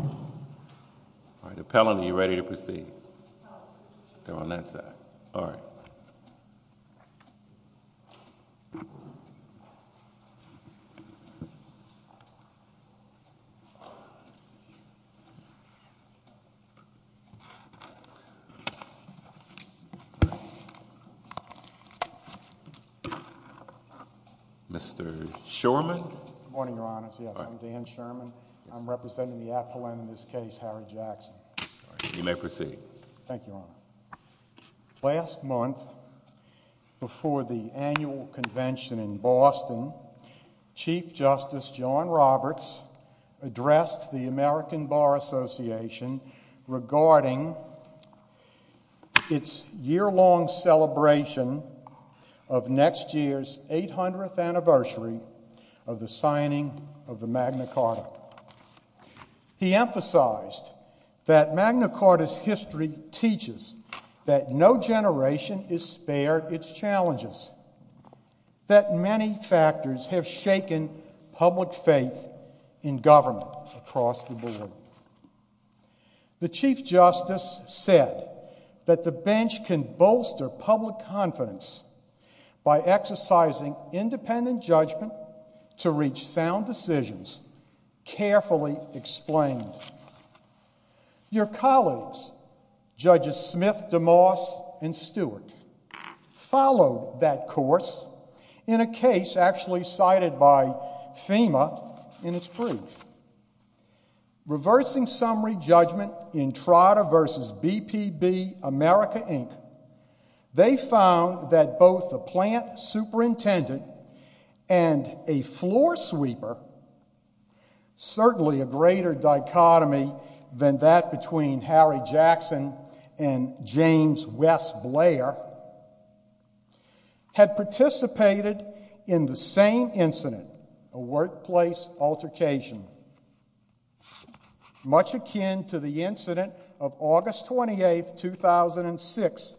All right, appellant, are you ready to proceed? They're on that side. All right. Mr. Shorman? Good morning, Your Honor. Yes, I'm Dan Shorman. I'm representing the appellant in this case, Harry Jackson. All right, you may proceed. Thank you, Your Honor. Last month, before the annual convention in Boston, Chief Justice John Roberts addressed the American Bar Association of the signing of the Magna Carta. He emphasized that Magna Carta's history teaches that no generation is spared its challenges, that many factors have shaken public faith in government across the board. The Chief Justice said that the bench can bolster public confidence by exercising independent judgment to reach sound decisions carefully explained. Your colleagues, Judges Smith, DeMoss, and Stewart, followed that course in a case actually cited by FEMA in its brief. Reversing summary judgment in Trotter v. BPB America, Inc., they found that both the plant superintendent and a floor sweeper, certainly a greater dichotomy than that between Harry Jackson and James West Blair, had participated in the same incident, a workplace altercation, much akin to the incident of August 28, 2006,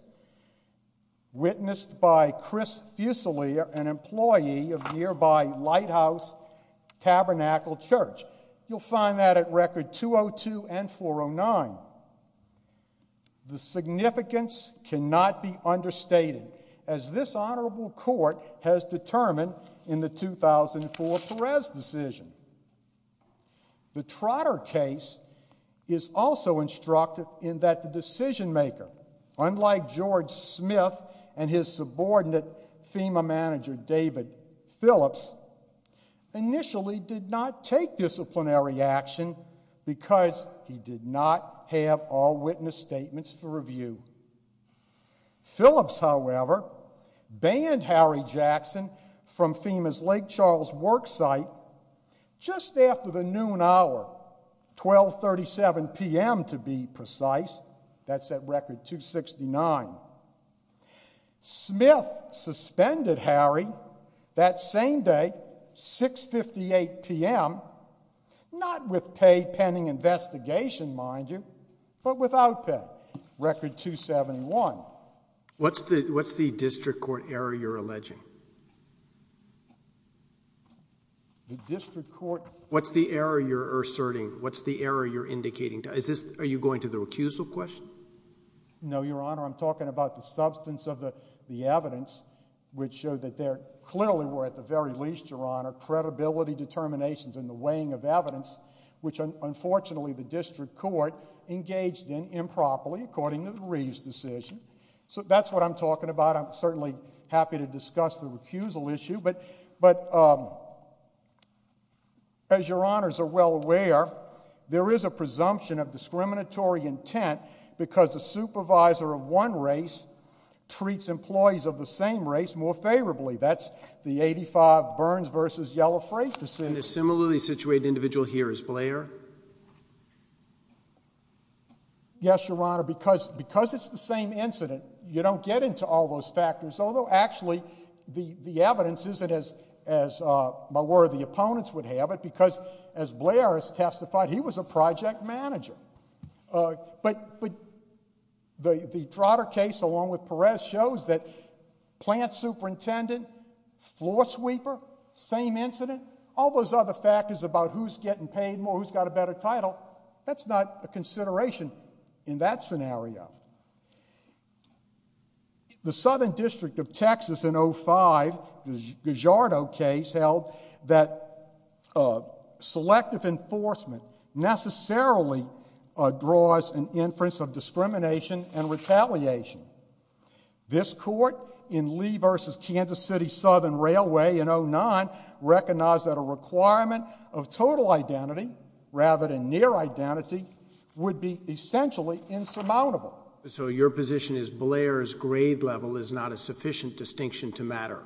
witnessed by Chris Fusilier, an employee of nearby Lighthouse Tabernacle Church. You'll find that at record 202 and 409. The significance cannot be understated, as this honorable court has determined in the 2004 Perez decision. The Trotter case is also instructed in that the decision maker, unlike George Smith and his subordinate FEMA manager, David Phillips, initially did not take disciplinary action because he did not have all witness statements for review. Phillips, however, banned Harry Jackson from FEMA's Lake Charles worksite just after the noon hour, 12.37 p.m. to be precise. That's at record 269. Smith suspended Harry that same day, 6.58 p.m., not with pay pending investigation, mind you, but without pay, record 271. What's the district court error you're alleging? What's the error you're asserting? What's the error you're indicating? Are you going to the recusal question? No, Your Honor, I'm talking about the substance of the evidence which showed that there clearly were, at the very least, Your Honor, credibility determinations in the weighing of evidence which, unfortunately, the district court engaged in improperly according to the Reeves decision. So that's what I'm talking about. I'm certainly happy to discuss the recusal issue, but as Your Honors are well aware, there is a presumption of discriminatory intent because the supervisor of one race treats employees of the same race more favorably. That's the 85 Burns v. Yellow Frake decision. And the similarly situated individual here is Blair? Yes, Your Honor, because it's the same incident, you don't get into all those factors, although actually the evidence isn't as my worthy opponents would have it because, as Blair has testified, he was a project manager. But the Trotter case, along with Perez, shows that plant superintendent, floor sweeper, same incident, all those other factors about who's getting paid more, who's got a better title, that's not a consideration in that scenario. The Southern District of Texas in 05, the Guijardo case, held that selective enforcement necessarily draws an inference of discrimination and retaliation. This court in Lee v. Kansas City Southern Railway in 09 recognized that a requirement of total identity rather than near identity would be essentially insurmountable. So your position is Blair's grade level is not a sufficient distinction to matter?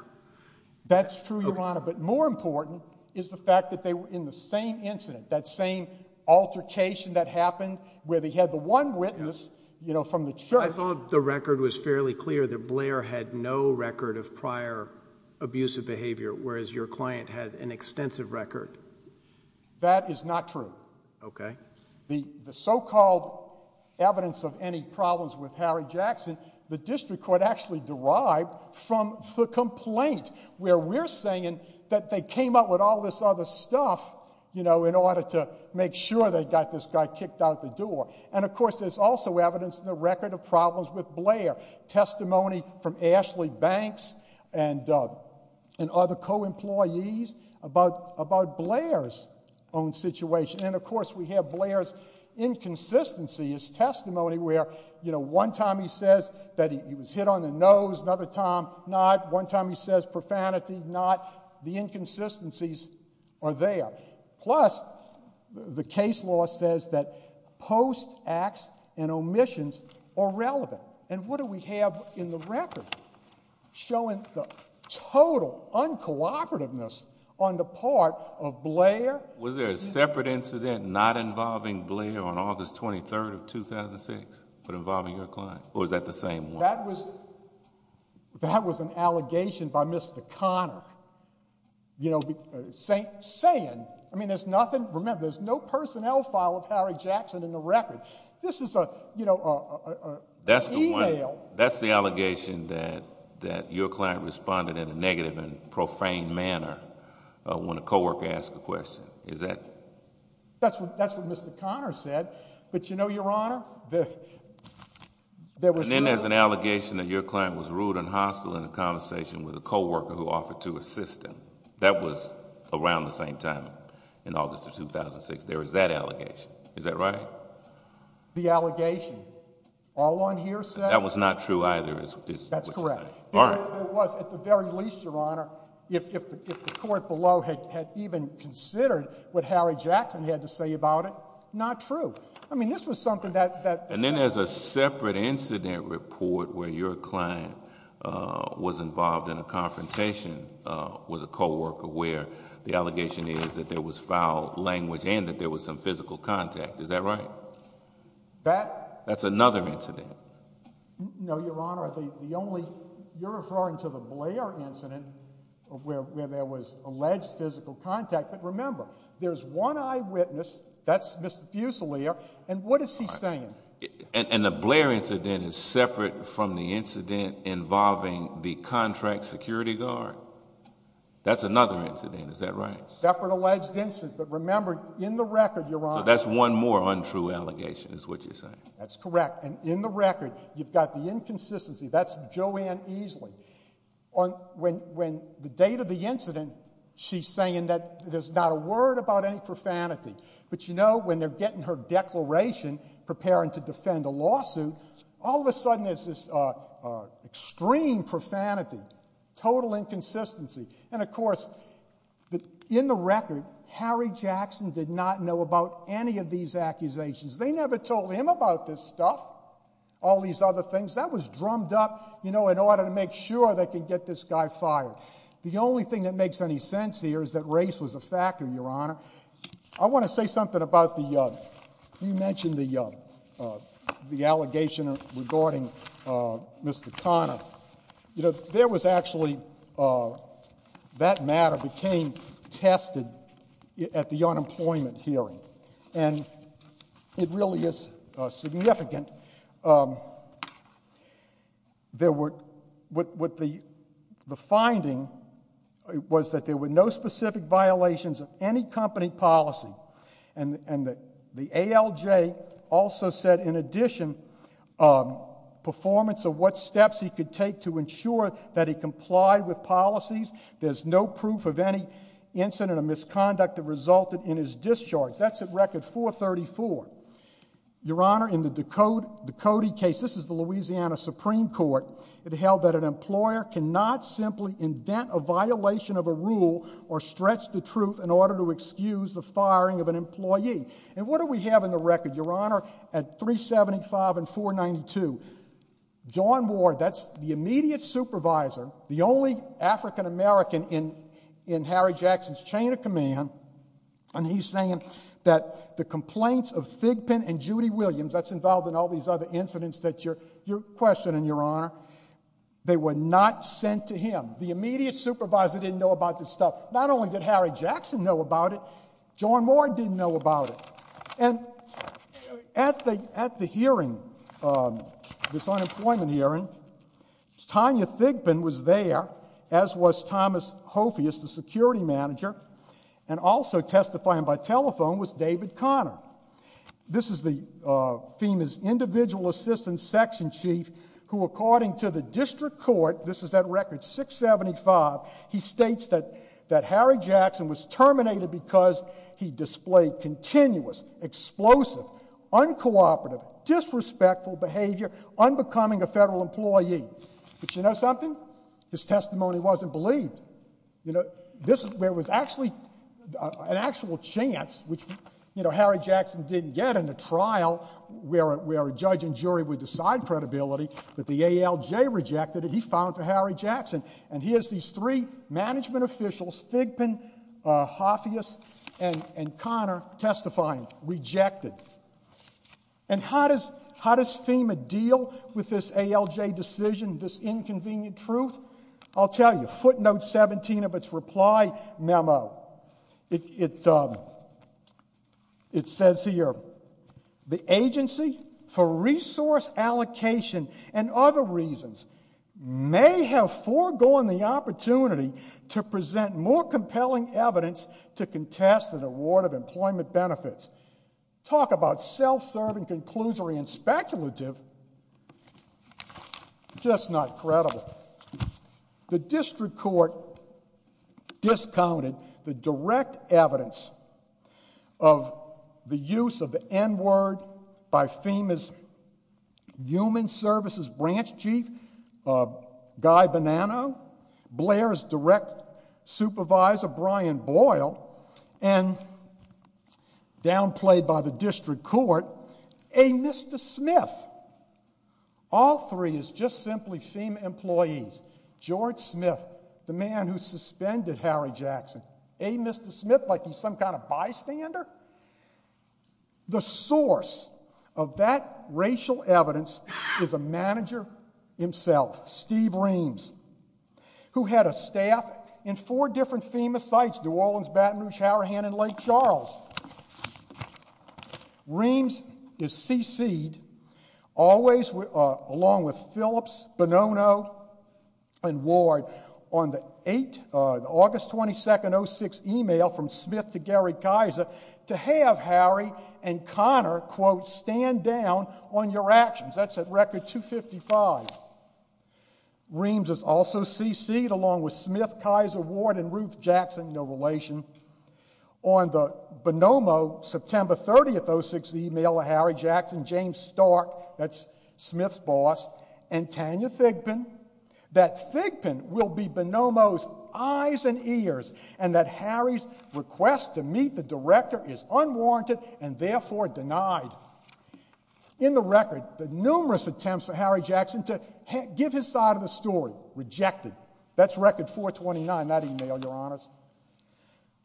That's true, Your Honor, but more important is the fact that they were in the same incident, that same altercation that happened where they had the one witness from the church. I thought the record was fairly clear that Blair had no record of prior abusive behavior, whereas your client had an extensive record. That is not true. Okay. The so-called evidence of any problems with Harry Jackson, the district court actually derived from the complaint where we're saying that they came up with all this other stuff in order to make sure they got this guy kicked out the door. And, of course, there's also evidence in the record of problems with Blair, testimony from Ashley Banks and other co-employees about Blair's own situation. And, of course, we have Blair's inconsistencies, testimony where, you know, one time he says that he was hit on the nose, another time not, one time he says profanity, not. The inconsistencies are there. Plus, the case law says that post acts and omissions are relevant. And what do we have in the record showing the total uncooperativeness on the part of Blair? Was there a separate incident not involving Blair on August 23rd of 2006 but involving your client, or was that the same one? That was an allegation by Mr. Conner, you know, saying, I mean, there's nothing, remember, there's no personnel file of Harry Jackson in the record. This is, you know, an email. That's the allegation that your client responded in a negative and profane manner when a co-worker asked a question. Is that... That's what Mr. Conner said. But you know, Your Honor, there was... And then there's an allegation that your client was rude and hostile in a conversation with a co-worker who offered to assist him. That was around the same time, in August of 2006. There was that allegation. Is that right? The allegation. All on here said... That was not true either. That's correct. There was, at the very least, Your Honor, if the court below had even considered what Harry Jackson had to say about it, not true. I mean, this was something that... And then there's a separate incident report where your client was involved in a confrontation with a co-worker where the allegation is that there was foul language and that there was some physical contact. Is that right? That... That's another incident. No, Your Honor, the only... Where there was alleged physical contact. But remember, there's one eyewitness. That's Mr. Fusilier. And what is he saying? And the Blair incident is separate from the incident involving the contract security guard? That's another incident. Is that right? Separate alleged incident. But remember, in the record, Your Honor... So that's one more untrue allegation, is what you're saying. That's correct. And in the record, you've got the inconsistency. That's Joanne Easley. When the date of the incident, she's saying that there's not a word about any profanity. But, you know, when they're getting her declaration preparing to defend a lawsuit, all of a sudden there's this extreme profanity, total inconsistency. And, of course, in the record, Harry Jackson did not know about any of these accusations. They never told him about this stuff, all these other things. That was drummed up, you know, in order to make sure they could get this guy fired. The only thing that makes any sense here is that race was a factor, Your Honor. I want to say something about the... You mentioned the allegation regarding Mr. Conner. You know, there was actually... That matter became tested at the unemployment hearing. And it really is significant. There were... The finding was that there were no specific violations of any company policy. And the ALJ also said, in addition, performance of what steps he could take to ensure that he complied with policies. There's no proof of any incident or misconduct that resulted in his discharge. That's at record 434. Your Honor, in the Ducote case, this is the Louisiana Supreme Court, it held that an employer cannot simply indent a violation of a rule or stretch the truth in order to excuse the firing of an employee. And what do we have in the record, Your Honor, at 375 and 492? John Ward, that's the immediate supervisor, the only African-American in Harry Jackson's chain of command, and he's saying that the complaints of Thigpen and Judy Williams, that's involved in all these other incidents that you're questioning, Your Honor, they were not sent to him. The immediate supervisor didn't know about this stuff. Not only did Harry Jackson know about it, John Ward didn't know about it. And at the hearing, this unemployment hearing, Tanya Thigpen was there, as was Thomas Hofius, the security manager, and also testifying by telephone was David Conner. This is FEMA's individual assistant section chief who, according to the district court, this is at record 675, he states that Harry Jackson was terminated because he displayed continuous, explosive, uncooperative, disrespectful behavior unbecoming a federal employee. But you know something? His testimony wasn't believed. There was actually an actual chance, which Harry Jackson didn't get in the trial where a judge and jury would decide credibility, but the ALJ rejected it. He filed for Harry Jackson. And here's these three management officials, Thigpen, Hofius, and Conner testifying, rejected. And how does FEMA deal with this ALJ decision, this inconvenient truth? I'll tell you, footnote 17 of its reply memo, it says here, the agency, for resource allocation and other reasons, may have foregone the opportunity to present more compelling evidence to contest an award of employment benefits. Talk about self-serving, conclusory, and speculative. Just not credible. The district court discounted the direct evidence of the use of the N-word by FEMA's human services branch chief, Guy Bonanno, Blair's direct supervisor, Brian Boyle, and downplayed by the district court, a Mr. Smith. All three is just simply FEMA employees. George Smith, the man who suspended Harry Jackson, a Mr. Smith like he's some kind of bystander? The source of that racial evidence is a manager himself, Steve Reams, who had a staff in four different FEMA sites, New Orleans, Baton Rouge, Harahan, and Lake Charles. Reams is cc'd, along with Phillips, Bonanno, and Ward, on the August 22nd, 2006 email from Smith to Gary Kaiser to have Harry and Connor, quote, stand down on your actions. That's at record 255. Reams is also cc'd, along with Smith, Kaiser, Ward, and Ruth Jackson, no relation, on the Bonanno, September 30th, 2006 email of Harry Jackson, James Stark, that's Smith's boss, and Tanya Thigpen, that Thigpen will be Bonanno's eyes and ears, and that Harry's request to meet the director is unwarranted and therefore denied. In the record, the numerous attempts for Harry Jackson to give his side of the story, rejected. That's record 429, that email, Your Honors.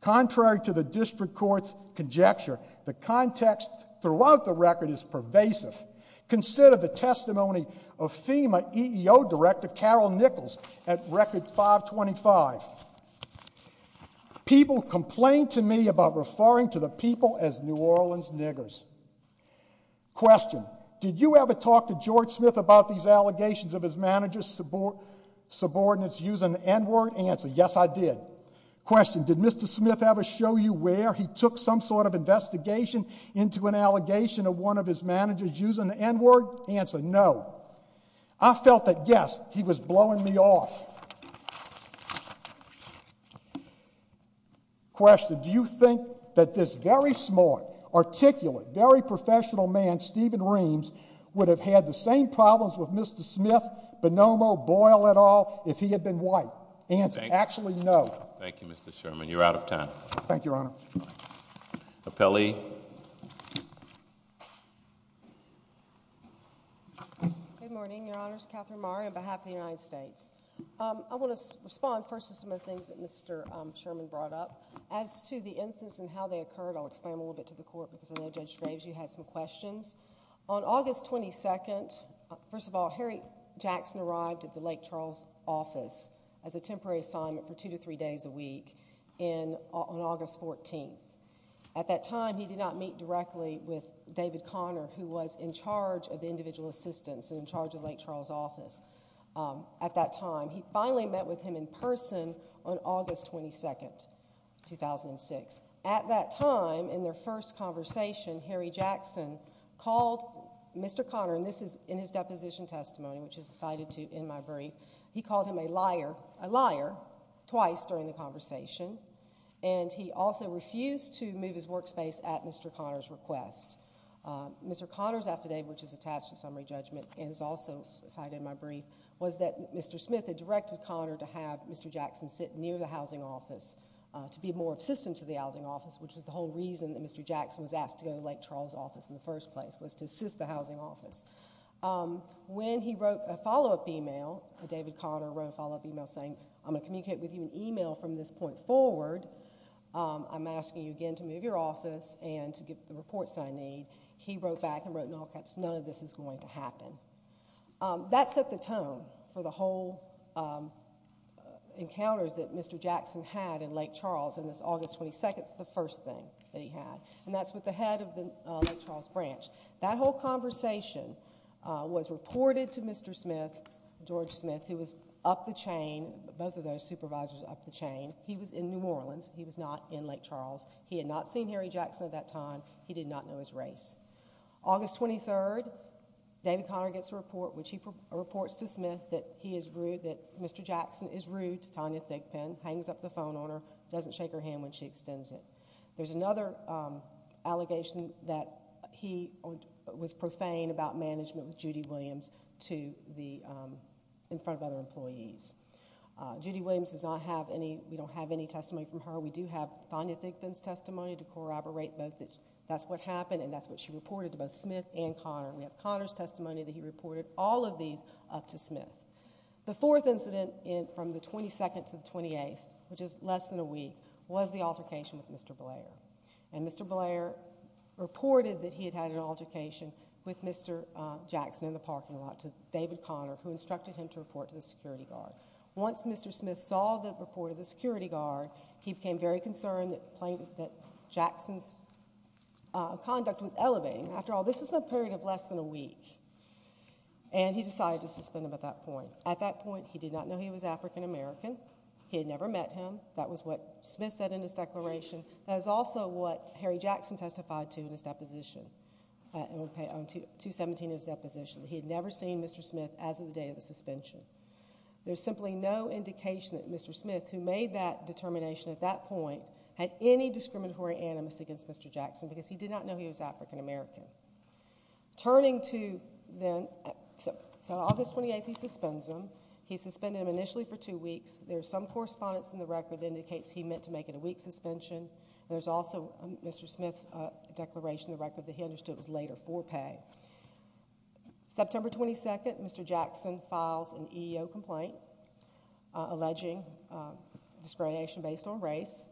Contrary to the district court's conjecture, the context throughout the record is pervasive. Consider the testimony of FEMA EEO director Carol Nichols at record 525. People complained to me about referring to the people as New Orleans niggers. Question, did you ever talk to George Smith about these allegations of his manager's subordinates using the N-word? Answer, yes, I did. Question, did Mr. Smith ever show you where he took some sort of investigation into an allegation of one of his managers using the N-word? Answer, no. I felt that, yes, he was blowing me off. Question, do you think that this very smart, articulate, very professional man, Stephen Reams, would have had the same problems with Mr. Smith, Bonanno, Boyle, et al., if he had been white? Answer, actually, no. Thank you, Mr. Sherman. You're out of time. Thank you, Your Honor. Appellee. Good morning, Your Honors. Catherine Maher on behalf of the United States. I want to respond first to some of the things that Mr. Sherman brought up. As to the instance and how they occurred, I'll explain a little bit to the court, because I know Judge Graves, you had some questions. On August 22nd, first of all, Harry Jackson arrived at the Lake Charles office as a temporary assignment for two to three days a week on August 14th. At that time, he did not meet directly with David Connor, who was in charge of the individual assistants and in charge of the Lake Charles office at that time. He finally met with him in person on August 22nd, 2006. At that time, in their first conversation, Harry Jackson called Mr. Connor, and this is in his deposition testimony, which is cited in my brief. He called him a liar twice during the conversation, and he also refused to move his workspace at Mr. Connor's request. Mr. Connor's affidavit, which is attached to summary judgment and is also cited in my brief, was that Mr. Smith had directed Connor to have Mr. Jackson sit near the housing office to be more assistant to the housing office, which was the whole reason that Mr. Jackson was asked to go to the Lake Charles office in the first place, was to assist the housing office. When he wrote a follow-up email, David Connor wrote a follow-up email saying, I'm going to communicate with you in email from this point forward. I'm asking you again to move your office and to get the reports that I need. He wrote back and wrote in all caps, none of this is going to happen. That set the tone for the whole encounters that Mr. Jackson had in Lake Charles in this August 22nd is the first thing that he had, and that's with the head of the Lake Charles branch. That whole conversation was reported to Mr. Smith, George Smith, who was up the chain, both of those supervisors up the chain. He was in New Orleans. He was not in Lake Charles. He had not seen Harry Jackson at that time. He did not know his race. August 23rd, David Connor gets a report, which he reports to Smith that he is rude, that Mr. Jackson is rude to Tanya Thigpen, hangs up the phone on her, doesn't shake her hand when she extends it. There's another allegation that he was profane about management with Judy Williams in front of other employees. Judy Williams does not have any... We don't have any testimony from her. We do have Tanya Thigpen's testimony to corroborate both that that's what happened and that's what she reported to both Smith and Connor. We have Connor's testimony that he reported all of these up to Smith. The fourth incident from the 22nd to the 28th, which is less than a week, was the altercation with Mr. Blair. And Mr. Blair reported that he had had an altercation with Mr. Jackson in the parking lot to David Connor, who instructed him to report to the security guard. Once Mr. Smith saw the report of the security guard, he became very concerned that Jackson's conduct was elevating. After all, this is a period of less than a week. And he decided to suspend him at that point. At that point, he did not know he was African American. He had never met him. That was what Smith said in his declaration. That is also what Harry Jackson testified to in his deposition. Okay, on 217 of his deposition. He had never seen Mr. Smith as of the day of the suspension. There's simply no indication that Mr. Smith, who made that determination at that point, had any discriminatory animus against Mr. Jackson because he did not know he was African American. Turning to then... So August 28th, he suspends him. He suspended him initially for two weeks. There's some correspondence in the record that indicates he meant to make it a week suspension. There's also Mr. Smith's declaration in the record that he understood it was later for pay. September 22nd, Mr. Jackson files an EEO complaint alleging discrimination based on race.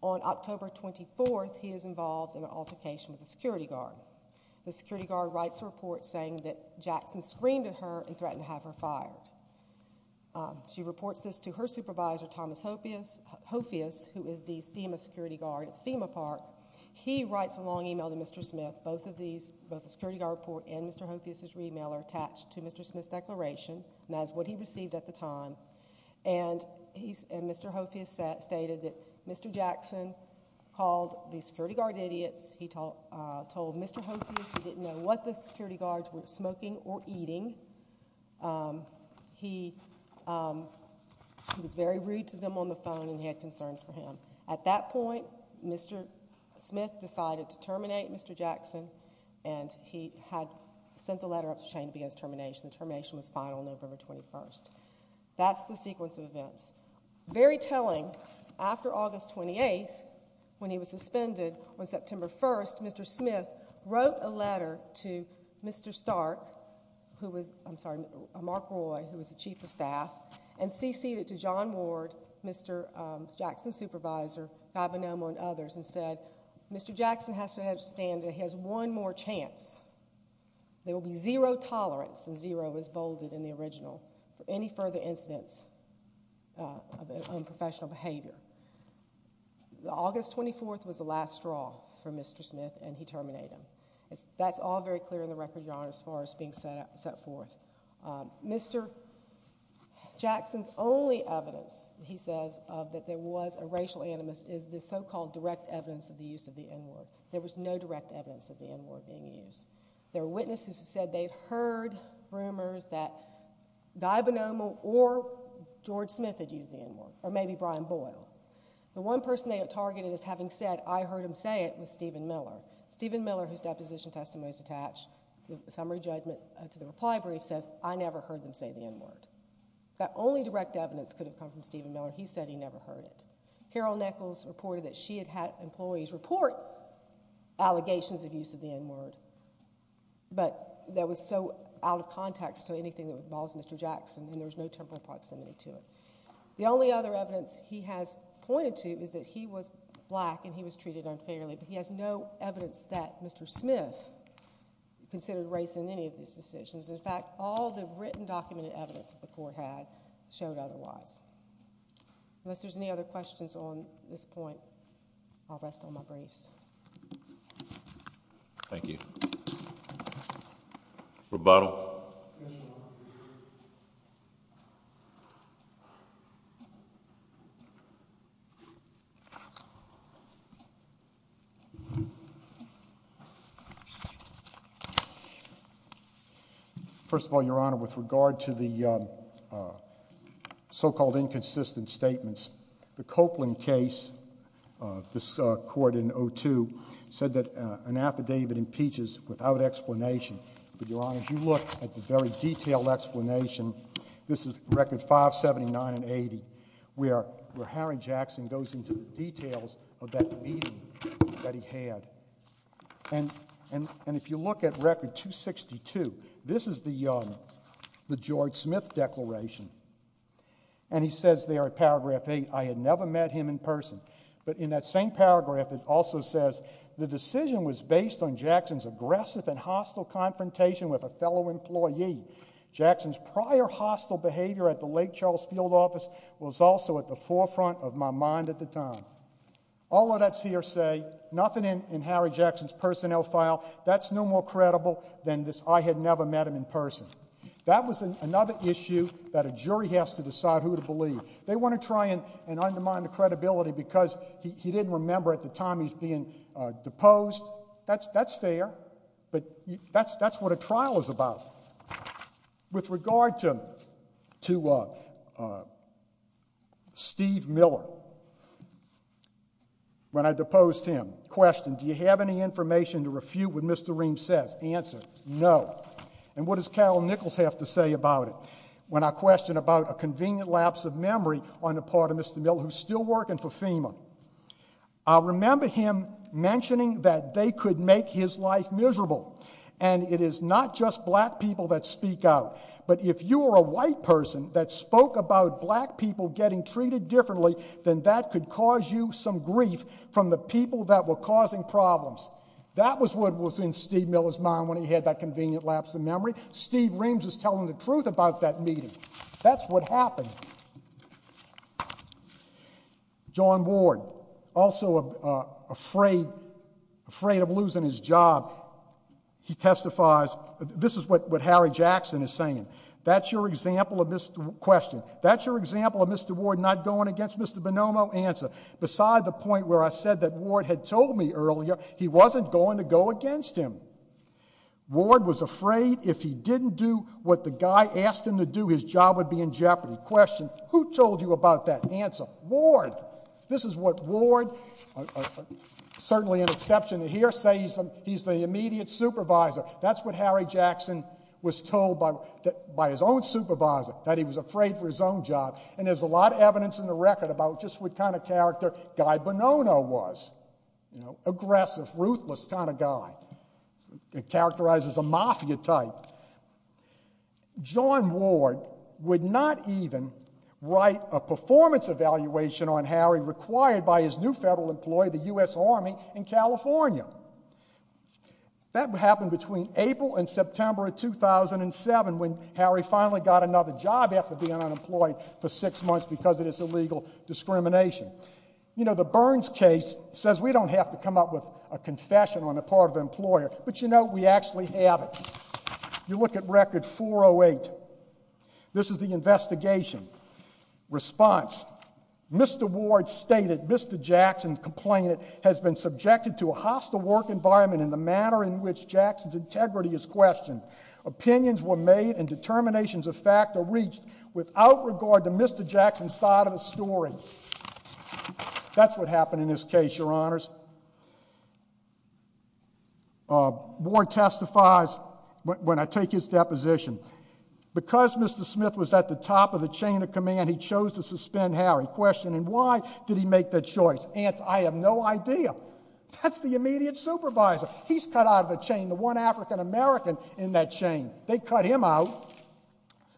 On October 24th, he is involved in an altercation with the security guard. The security guard writes a report saying that Jackson screamed at her and threatened to have her fired. She reports this to her supervisor, Thomas Hopheus, who is the FEMA security guard at FEMA Park. He writes a long e-mail to Mr. Smith. Both the security guard report and Mr. Hopheus's e-mail are attached to Mr. Smith's declaration, and that's what he received at the time. And Mr. Hopheus stated that Mr. Jackson called the security guard idiots. He told Mr. Hopheus he didn't know what the security guards were smoking or eating. He was very rude to them on the phone, and he had concerns for him. At that point, Mr. Smith decided to terminate Mr. Jackson, and he had sent a letter up the chain to begin his termination. The termination was final on November 21st. That's the sequence of events. Very telling, after August 28th, when he was suspended, on September 1st, Mr. Smith wrote a letter to Mr. Stark, who was, I'm sorry, Mark Roy, who was the chief of staff, and ceded it to John Ward, Mr. Jackson's supervisor, Fabanomo and others, and said, Mr. Jackson has to understand that he has one more chance. There will be zero tolerance, and zero is bolded in the original, for any further incidents of unprofessional behavior. August 24th was the last straw for Mr. Smith, and he terminated him. That's all very clear in the record, Your Honour, as far as being set forth. Mr. Jackson's only evidence, he says, of that there was a racial animus is the so-called direct evidence of the use of the N-word. There was no direct evidence of the N-word being used. There were witnesses who said they'd heard rumours that Fabanomo or George Smith had used the N-word, or maybe Brian Boyle. The one person they had targeted as having said, I heard him say it, was Stephen Miller. Stephen Miller, whose deposition testimony is attached to the summary judgment to the reply brief, says, I never heard them say the N-word. That only direct evidence could have come from Stephen Miller. He said he never heard it. Carol Nichols reported that she had had employees report allegations of use of the N-word, but that was so out of context to anything that involves Mr. Jackson, and there was no temporal proximity to it. The only other evidence he has pointed to is that he was black and he was treated unfairly, but he has no evidence that Mr. Smith considered race in any of these decisions. In fact, all the written, documented evidence that the court had showed otherwise. Unless there's any other questions on this point, I'll rest on my briefs. Thank you. Rebuttal. First of all, Your Honor, with regard to the so-called inconsistent statements, the Copeland case, this court in 02, said that an affidavit impeaches without explanation. But, Your Honor, if you look at the very detailed explanation, this is record 579 and 80, where Harry Jackson goes into the details of that meeting that he had. And if you look at record 262, this is the George Smith declaration, and he says there at paragraph 8, I had never met him in person. But in that same paragraph, it also says, the decision was based on Jackson's aggressive and hostile confrontation with a fellow employee. Jackson's prior hostile behavior at the Lake Charles field office was also at the forefront of my mind at the time. All of that's hearsay. Nothing in Harry Jackson's personnel file. That's no more credible than this I had never met him in person. That was another issue that a jury has to decide who to believe. They want to try and undermine the credibility because he didn't remember at the time he's being deposed. That's fair. But that's what a trial is about. With regard to Steve Miller, when I deposed him, question, do you have any information to refute what Mr. Ream says? Answer, no. And what does Calum Nichols have to say about it? When I question about a convenient lapse of memory on the part of Mr. Miller, who's still working for FEMA, I remember him mentioning that they could make his life miserable. And it is not just black people that speak out. But if you are a white person that spoke about black people getting treated differently, then that could cause you some grief from the people that were causing problems. That was what was in Steve Miller's mind when he had that convenient lapse of memory. Steve Reams is telling the truth about that meeting. That's what happened. John Ward, also afraid of losing his job, he testifies, this is what Harry Jackson is saying, that's your example of Mr. Ward not going against Mr. Bonomo? Answer, beside the point where I said that Ward had told me earlier, he wasn't going to go against him. Ward was afraid if he didn't do what the guy asked him to do, his job would be in jeopardy. Question, who told you about that? Answer, Ward. This is what Ward, certainly an exception here, says he's the immediate supervisor. That's what Harry Jackson was told by his own supervisor, that he was afraid for his own job. And there's a lot of evidence in the record about just what kind of character Guy Bonomo was. Aggressive, ruthless kind of guy. Characterized as a mafia type. John Ward would not even write a performance evaluation on Harry required by his new federal employee, the U.S. Army, in California. That happened between April and September of 2007 when Harry finally got another job after being unemployed for six months because of this illegal discrimination. You know, the Burns case says we don't have to come up with a confession on the part of the employer, but, you know, we actually have it. You look at Record 408. This is the investigation. Response, Mr. Ward stated, Mr. Jackson, complainant, has been subjected to a hostile work environment in the manner in which Jackson's integrity is questioned. Opinions were made and determinations of fact are reached without regard to Mr. Jackson's side of the story. That's what happened in this case, Your Honors. Ward testifies when I take his deposition. Because Mr. Smith was at the top of the chain of command, he chose to suspend Harry, questioning why did he make that choice. Answer, I have no idea. That's the immediate supervisor. He's cut out of the chain, the one African-American in that chain. They cut him out,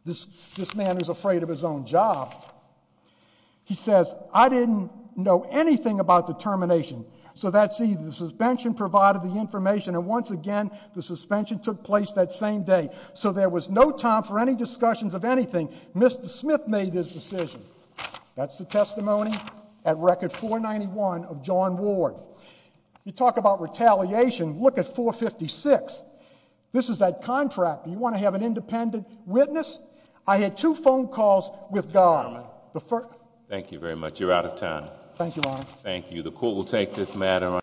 this man who's afraid of his own job. He says, I didn't know anything about the termination. So that's either the suspension provided the information, and once again, the suspension took place that same day. So there was no time for any discussions of anything. Mr. Smith made his decision. That's the testimony at Record 491 of John Ward. You talk about retaliation. Look at 456. This is that contract. You want to have an independent witness? I had two phone calls with Garman. Thank you very much. You're out of time. Thank you, Your Honor. Thank you. The court will take this matter on its own.